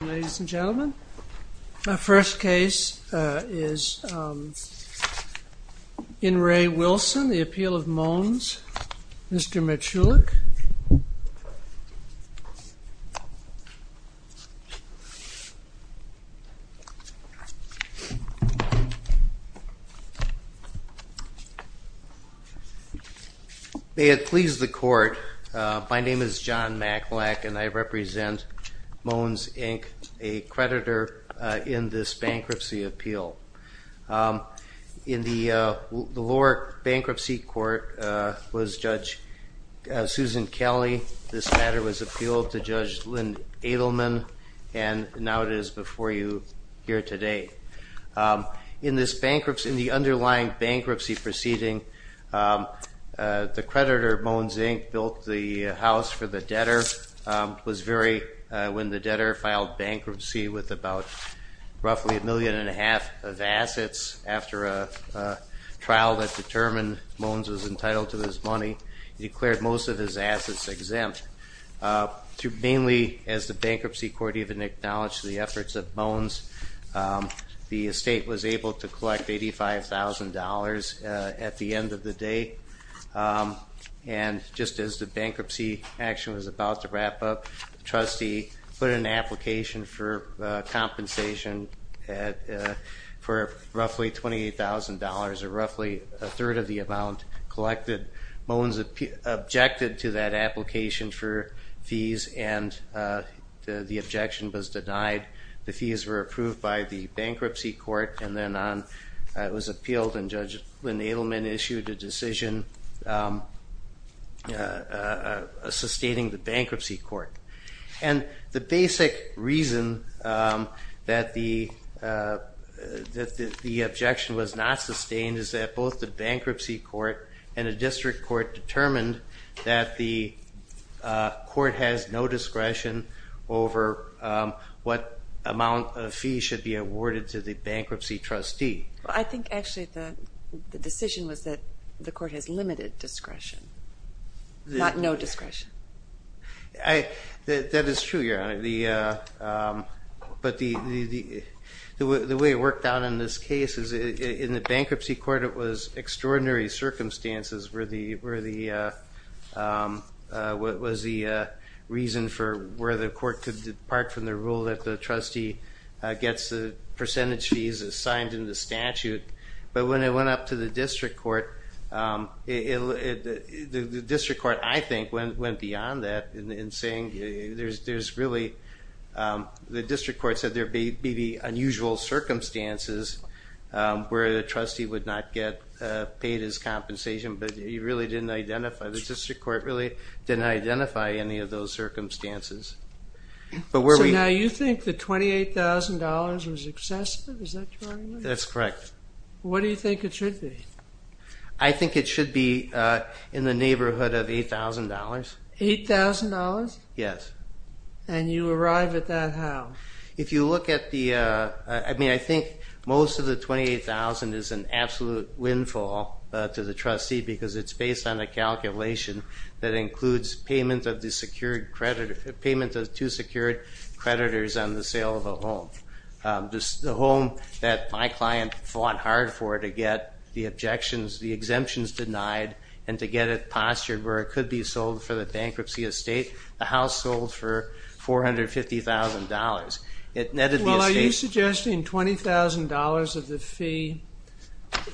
Ladies and gentlemen, our first case is In Re. Wilson, the appeal of Mohns. Mr. Matulak. John Matulak May it please the Court, my name is John Matulak and I represent Mohns, Inc., a creditor in this bankruptcy appeal. In the lower bankruptcy court was Judge Susan Kelly. This matter was appealed to Judge Lynn Edelman and now it is before you here today. In the underlying bankruptcy proceeding, the creditor Mohns, Inc. built the house for the debtor. It was when the debtor filed bankruptcy with about roughly a million and a half of assets after a trial that determined Mohns was entitled to his money, he declared most of his assets exempt. Mainly as the bankruptcy court even acknowledged the efforts of Mohns, the estate was able to collect $85,000 at the end of the day. And just as the bankruptcy action was about to wrap up, the trustee put in an amount of compensation for roughly $28,000 or roughly a third of the amount collected. Mohns objected to that application for fees and the objection was denied. The fees were approved by the bankruptcy court and then it was appealed and Judge Lynn Edelman issued a decision sustaining the bankruptcy court. And the basic reason that the objection was not sustained is that both the bankruptcy court and the district court determined that the court has no discretion over what amount of fees should be awarded to the bankruptcy trustee. I think actually the decision was that the court has limited discretion, not no discretion. That is true, Your Honor, but the way it worked out in this case is in the bankruptcy court it was extraordinary circumstances where the reason for where the court could depart from the rule that the trustee gets the percentage fees assigned in the statute, but when it went up to the district court, the district court I think went beyond that in saying there's really, the district court said there may be unusual circumstances where the trustee would not get paid his compensation, but you really didn't identify, the district court really didn't identify any of those circumstances. So now you think the $28,000 was excessive? That's correct. What do you think it should be? I think it should be in the neighborhood of $8,000. $8,000? Yes. And you arrive at that how? If you look at the, I mean I think most of the $28,000 is an absolute windfall to the trustee because it's based on a calculation that includes payment of the secured credit, payment of two secured creditors on the sale of a home. The home that my client fought hard for to get the objections, the exemptions denied, and to get it postured where it could be sold for the bankruptcy estate, the house sold for $450,000, it netted the estate. Well are you suggesting $20,000 of the fee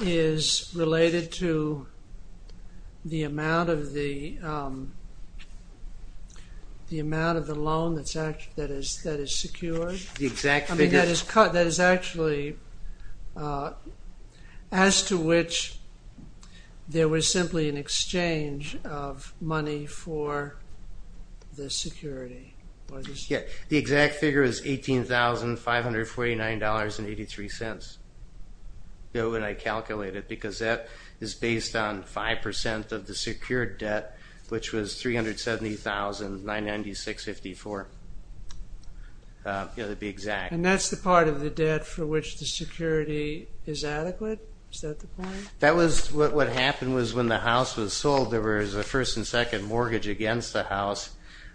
is related to the amount of the the amount of the loan that is secured? The exact figure? I mean that is actually as to which there was simply an exchange of money for the security. The exact figure is $18,549.83, that's what I calculated because that is based on 5% of the secured debt, which was $370,996.54. That would be exact. And that's the part of the debt for which the security is adequate? Is that the point? That was, what happened was when the house was sold, there was a first and second mortgage against the house.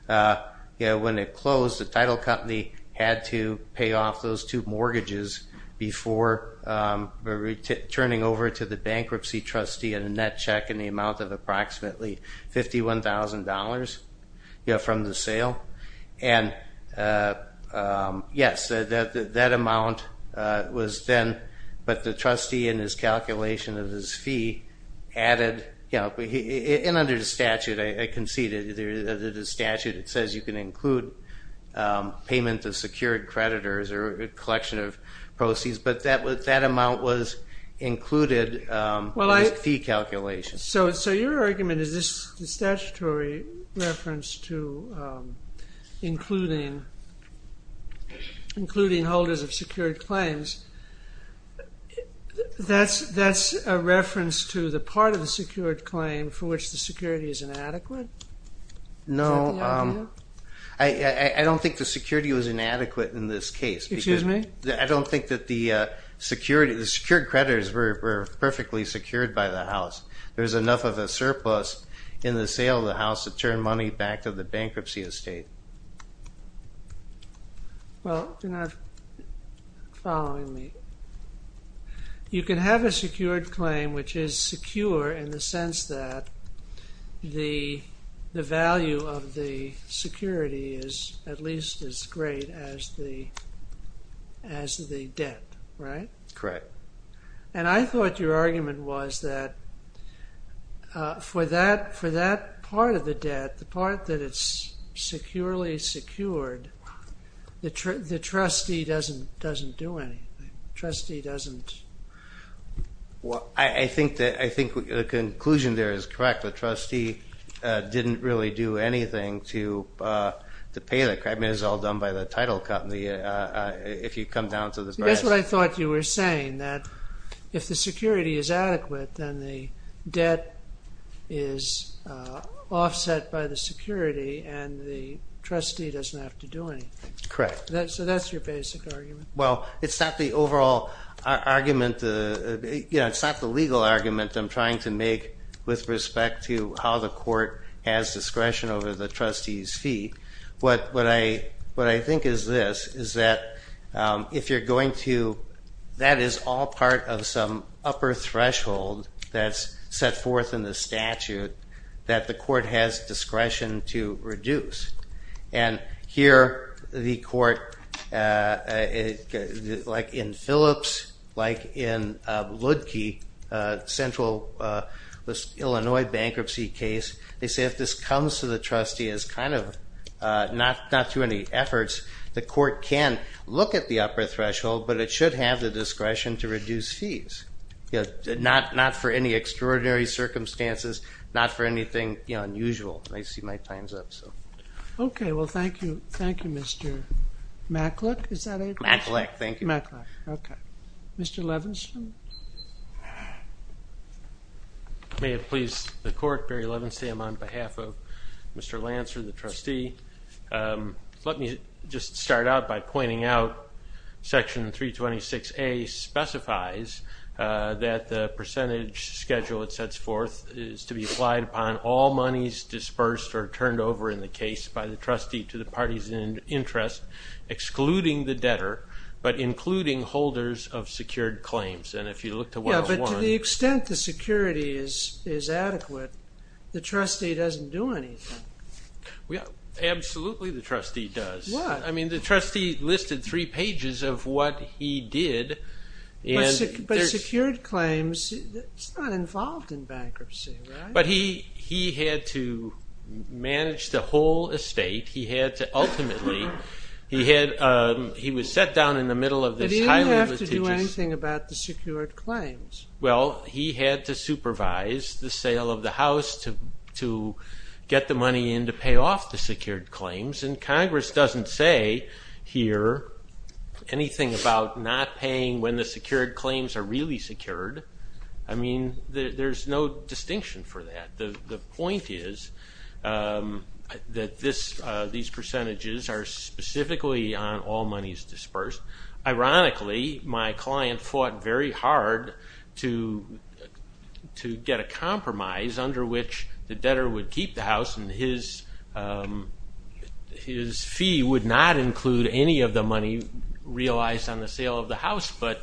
When it closed, the title company had to pay off those two mortgages before turning over to the bankruptcy trustee and a net check in the amount of approximately $51,000 from the sale. And yes, that amount was then, but the trustee in his calculation of his fee added, and under the statute I conceded, under the statute it says you can include payment of secured creditors or a collection of proceeds, but that amount was included in his fee calculation. So your argument is this statutory reference to including holders of secured claims, that's a reference to the part of the secured claim for which the security is inadequate? No, I don't think the security was inadequate in this case. Excuse me? I don't think that the secured creditors were perfectly secured by the house. There's enough of a surplus in the sale of the house to turn money back to the bankruptcy estate. Well, you're not following me. You can have a secured claim which is secure in the sense that the value of the security is at least as great as the debt, right? Correct. And I thought your argument was that for that part of the debt, the part that it's securely secured, the trustee doesn't do anything. The trustee doesn't... Well, I think the conclusion there is correct. The trustee didn't really do anything to pay that credit. I mean, it was all done by the title company, if you come down to the... That's what I thought you were saying, that if the security is adequate, then the debt is offset by the security and the trustee doesn't have to do anything. Correct. So that's your basic argument. Well, it's not the overall argument. It's not the legal argument I'm trying to make with respect to how the court has discretion over the trustee's fee. What I think is this, is that if you're going to... of some upper threshold that's set forth in the statute, that the court has discretion to reduce. And here the court, like in Phillips, like in Ludke, a central Illinois bankruptcy case, they say if this comes to the trustee as kind of not too many efforts, the court can look at the upper threshold, but it should have the discretion to reduce fees. Not for any extraordinary circumstances, not for anything unusual. I see my time's up, so... Okay, well, thank you. Thank you, Mr. Mackluck. Is that it? Mackluck, thank you. Mackluck, okay. Mr. Levenstam? May it please the court, Barry Levenstam, on behalf of Mr. Lancer, the trustee. Let me just start out by pointing out Section 326A specifies that the percentage schedule it sets forth is to be applied upon all monies dispersed or turned over in the case by the trustee to the parties in interest, excluding the debtor, but including holders of secured claims. And if you look to what was won... Yeah, but to the extent the security is adequate, the trustee doesn't do anything. Absolutely, the trustee does. What? I mean, the trustee listed three pages of what he did. But secured claims, it's not involved in bankruptcy, right? But he had to manage the whole estate. He had to ultimately, he was set down in the middle of this highly litigious... Well, he had to supervise the sale of the house to get the money in to pay off the secured claims, and Congress doesn't say here anything about not paying when the secured claims are really secured. I mean, there's no distinction for that. The point is that these percentages are specifically on all monies dispersed. Ironically, my client fought very hard to get a compromise under which the debtor would keep the house, and his fee would not include any of the money realized on the sale of the house. But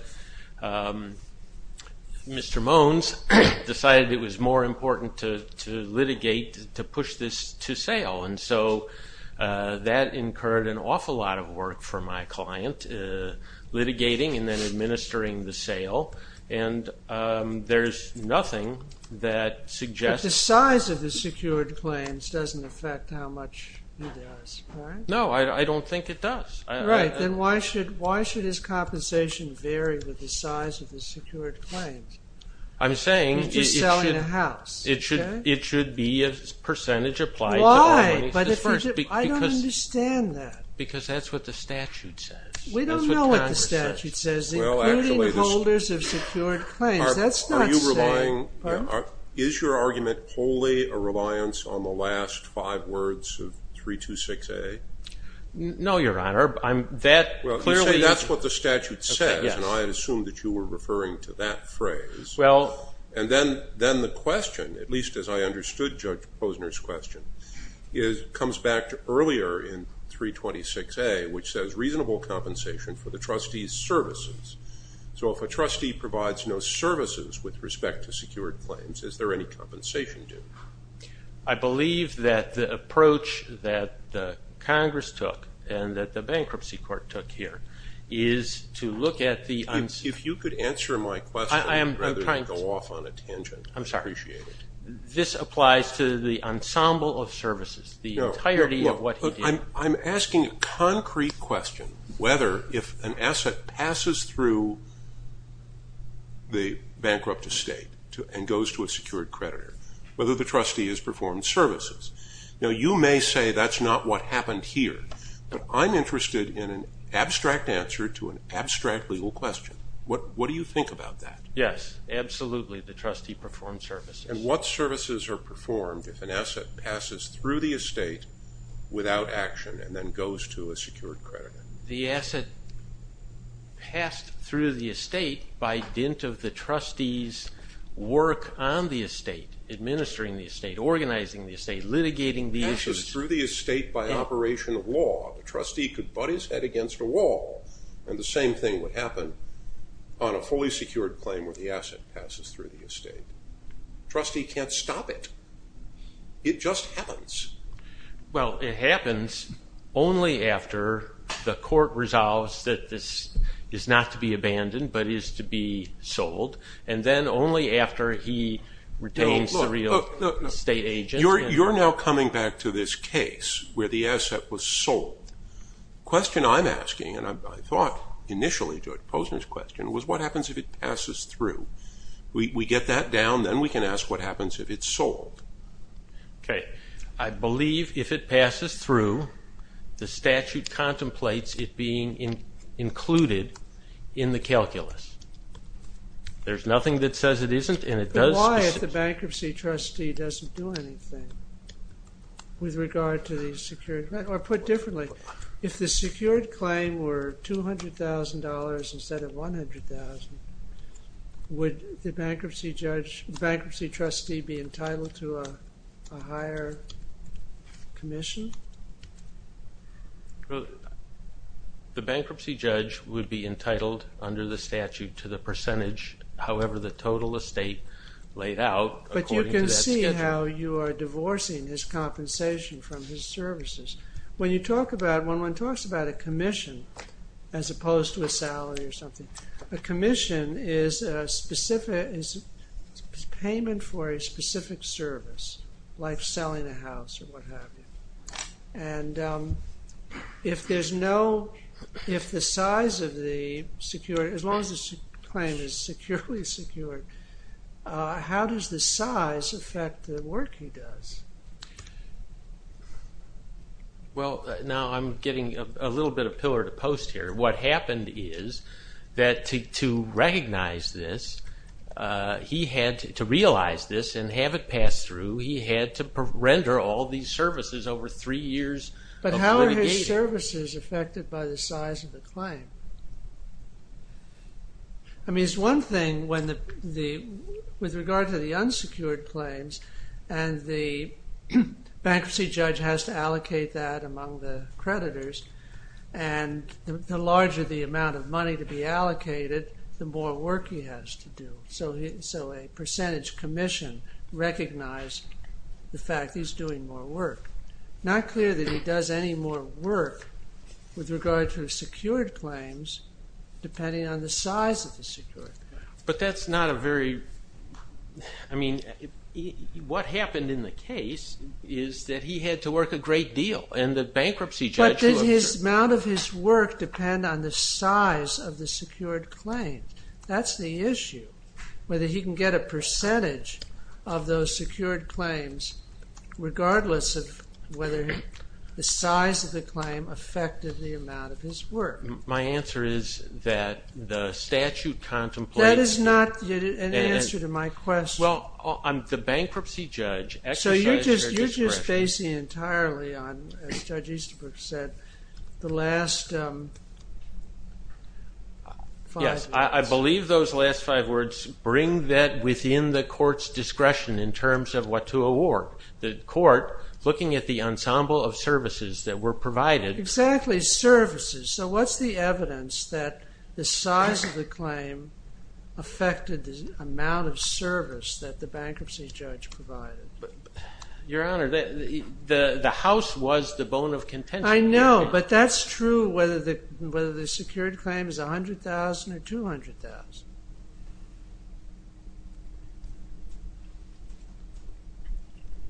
Mr. Moans decided it was more important to litigate to push this to sale, and so that incurred an awful lot of work for my client, litigating and then administering the sale, and there's nothing that suggests... He does, right? No, I don't think it does. Right. Then why should his compensation vary with the size of the secured claims? I'm saying it should be a percentage applied to all monies dispersed. Why? I don't understand that. Because that's what the statute says. That's what Congress says. We don't know what the statute says, including holders of secured claims. That's not saying... Is your argument wholly a reliance on the last five words of 326A? No, Your Honor. That clearly... Well, you say that's what the statute says, and I assumed that you were referring to that phrase. Well... And then the question, at least as I understood Judge Posner's question, comes back to earlier in 326A, which says reasonable compensation for the trustee's services. So if a trustee provides no services with respect to secured claims, is there any compensation due? I believe that the approach that Congress took and that the bankruptcy court took here is to look at the... If you could answer my question rather than go off on a tangent. I'm sorry. I appreciate it. This applies to the ensemble of services, the entirety of what he did. But I'm asking a concrete question whether, if an asset passes through the bankrupt estate and goes to a secured creditor, whether the trustee has performed services. Now, you may say that's not what happened here, but I'm interested in an abstract answer to an abstract legal question. What do you think about that? Yes, absolutely. The trustee performed services. And what services are performed if an asset passes through the estate without action and then goes to a secured creditor? The asset passed through the estate by dint of the trustee's work on the estate, administering the estate, organizing the estate, litigating the issues... Passes through the estate by operation of law. The trustee could butt his head against a wall, and the same thing would happen on a fully secured claim. The trustee can't stop it. It just happens. Well, it happens only after the court resolves that this is not to be abandoned, but is to be sold. And then only after he retains the real estate agent. You're now coming back to this case where the asset was sold. The question I'm asking, and I thought initially to Posner's question, was what happens if it passes through? We get that down, then we can ask what happens if it's sold. Okay. I believe if it passes through, the statute contemplates it being included in the calculus. There's nothing that says it isn't, and it does... Why if the bankruptcy trustee doesn't do anything with regard to the secured... Or put differently, if the secured claim were $200,000 instead of $100,000, would the bankruptcy trustee be entitled to a higher commission? The bankruptcy judge would be entitled under the statute to the percentage, however the total estate laid out according to that schedule. But you can see how you are divorcing his compensation from his services. When you talk about, when one talks about a commission as opposed to a salary or something, a commission is payment for a specific service, like selling a house or what have you. And if there's no, if the size of the secured, as long as the claim is securely secured, how does the size affect the work he does? Well, now I'm getting a little bit of pillar to post here. What happened is that to recognize this, he had to realize this and have it pass through, he had to render all these services over three years. But how are his services affected by the size of the claim? I mean it's one thing when the, with regard to the unsecured claims, and the bankruptcy judge has to allocate that among the creditors, and the larger the amount of money to be allocated, the more work he has to do. So a percentage commission recognized the fact he's doing more work. Not clear that he does any more work with regard to secured claims depending on the size of the secured claim. But that's not a very, I mean, what happened in the case is that he had to work a great deal, and the bankruptcy judge... Does the amount of his work depend on the size of the secured claim? That's the issue. Whether he can get a percentage of those secured claims regardless of whether the size of the claim affected the amount of his work. My answer is that the statute contemplates... That is not an answer to my question. Well, the bankruptcy judge exercised their discretion... As Judge Easterbrook said, the last five... Yes, I believe those last five words bring that within the court's discretion in terms of what to award. The court, looking at the ensemble of services that were provided... Exactly, services. So what's the evidence that the size of the claim affected the amount of service that the bankruptcy judge provided? Your Honor, the house was the bone of contention. I know, but that's true whether the secured claim is $100,000 or $200,000.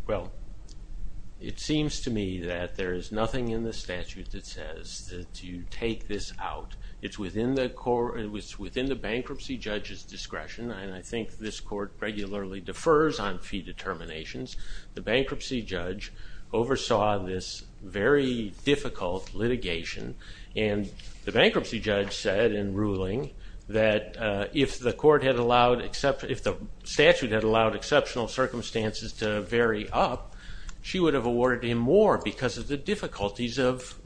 Well, it seems to me that there is nothing in the statute that says that you take this out. It's within the bankruptcy judge's discretion, and I think this court regularly defers on fee determination. The bankruptcy judge oversaw this very difficult litigation, and the bankruptcy judge said in ruling that if the statute had allowed exceptional circumstances to vary up, she would have awarded him more because of the difficulties of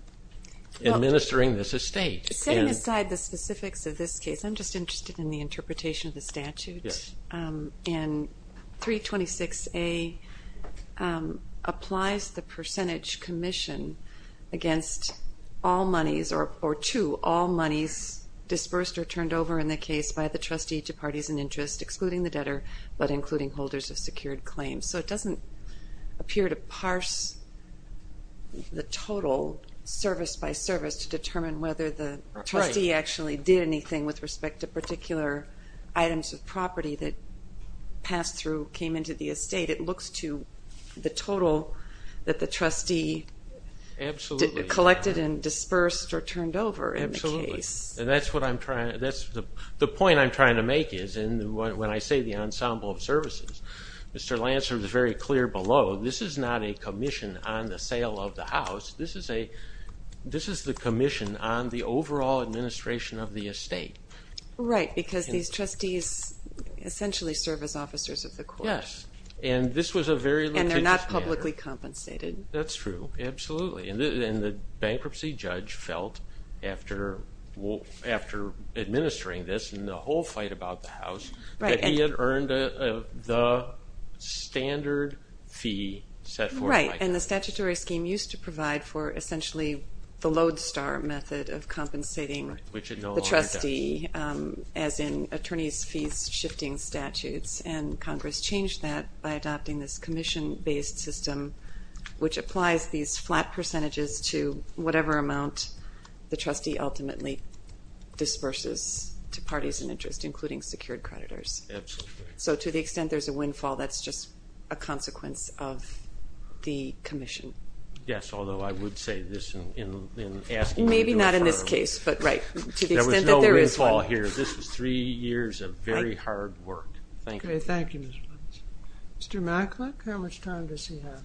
administering this estate. Setting aside the specifics of this case, I'm just interested in the interpretation of the statute. Yes. And 326A applies the percentage commission against all monies or to all monies dispersed or turned over in the case by the trustee to parties in interest, excluding the debtor but including holders of secured claims. So it doesn't appear to parse the total service by service to determine whether the trustee actually did anything with respect to particular items of property that passed through, came into the estate. It looks to the total that the trustee collected and dispersed or turned over in the case. The point I'm trying to make is when I say the ensemble of services, Mr. Lancer is very clear below. This is not a commission on the sale of the house. This is the commission on the overall administration of the estate. Right, because these trustees essentially serve as officers of the court. Yes, and this was a very litigious matter. And they're not publicly compensated. That's true, absolutely. And the bankruptcy judge felt after administering this and the whole fight about the house that he had earned the standard fee set forth by Congress. Right, and the statutory scheme used to provide for essentially the lodestar method of compensating the trustee as in attorneys fees shifting statutes. And Congress changed that by adopting this commission-based system, which applies these flat percentages to whatever amount the trustee ultimately disperses to parties in interest, including secured creditors. Absolutely. So to the extent there's a windfall, that's just a consequence of the commission. Yes, although I would say this in asking. Maybe not in this case, but right. To the extent that there is one. There was no windfall here. This was three years of very hard work. Thank you. Mr. Macklin, how much time does he have?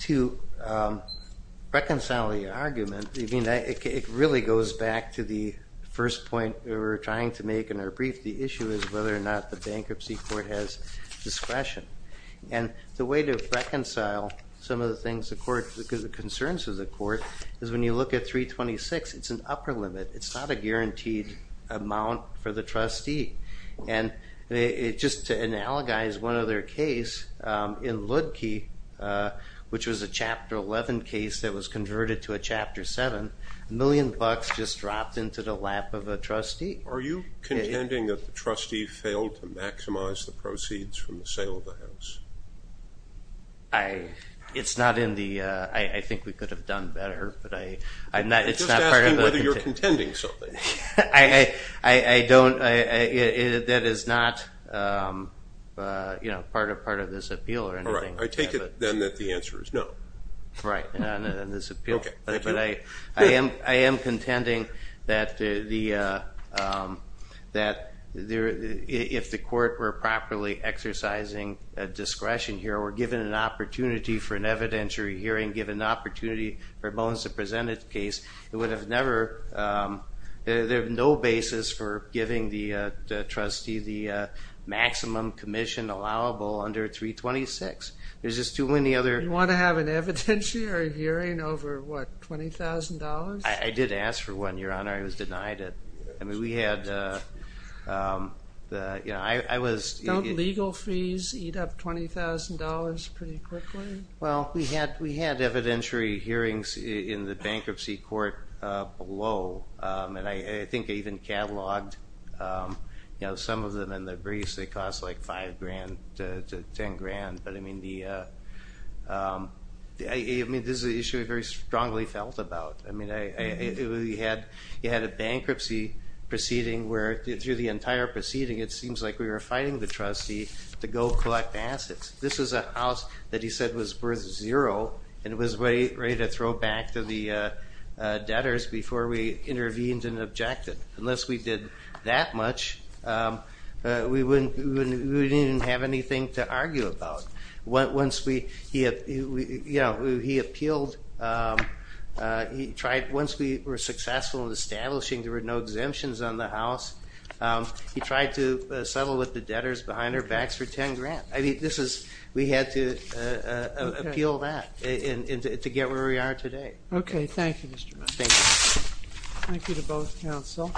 To reconcile the argument, it really goes back to the first point we were trying to make in our brief. The issue is whether or not the bankruptcy court has discretion. And the way to reconcile some of the concerns of the court is when you look at 326, it's an upper limit. It's not a guaranteed amount for the trustee. And just to analogize one other case, in Ludke, which was a Chapter 11 case that was converted to a Chapter 7, a million bucks just dropped into the lap of a trustee. Are you contending that the trustee failed to maximize the proceeds from the sale of the house? It's not in the, I think we could have done better. I'm just asking whether you're contending something. I don't, that is not part of this appeal or anything. All right, I take it then that the answer is no. Right, not in this appeal. But I am contending that if the court were properly exercising discretion here, or given an opportunity for an evidentiary hearing, given an opportunity for Bones to present his case, it would have never, there's no basis for giving the trustee the maximum commission allowable under 326. There's just too many other... You want to have an evidentiary hearing over, what, $20,000? I did ask for one, Your Honor. I was denied it. I mean, we had the, you know, I was... Don't legal fees eat up $20,000 pretty quickly? Well, we had evidentiary hearings in the bankruptcy court below. And I think I even cataloged, you know, some of them in the briefs. They cost like $5,000 to $10,000. But I mean, this is an issue I very strongly felt about. I mean, you had a bankruptcy proceeding where, through the entire proceeding, it seems like we were fighting the trustee to go collect assets. This is a house that he said was worth zero, and it was ready to throw back to the debtors before we intervened and objected. Unless we did that much, we didn't have anything to argue about. Once we, you know, he appealed... Once we were successful in establishing there were no exemptions on the house, he tried to settle with the debtors behind our backs for $10,000. I mean, this is... We had to appeal that to get where we are today. Okay. Thank you, Mr. Miller. Thank you. Thank you to both counsel.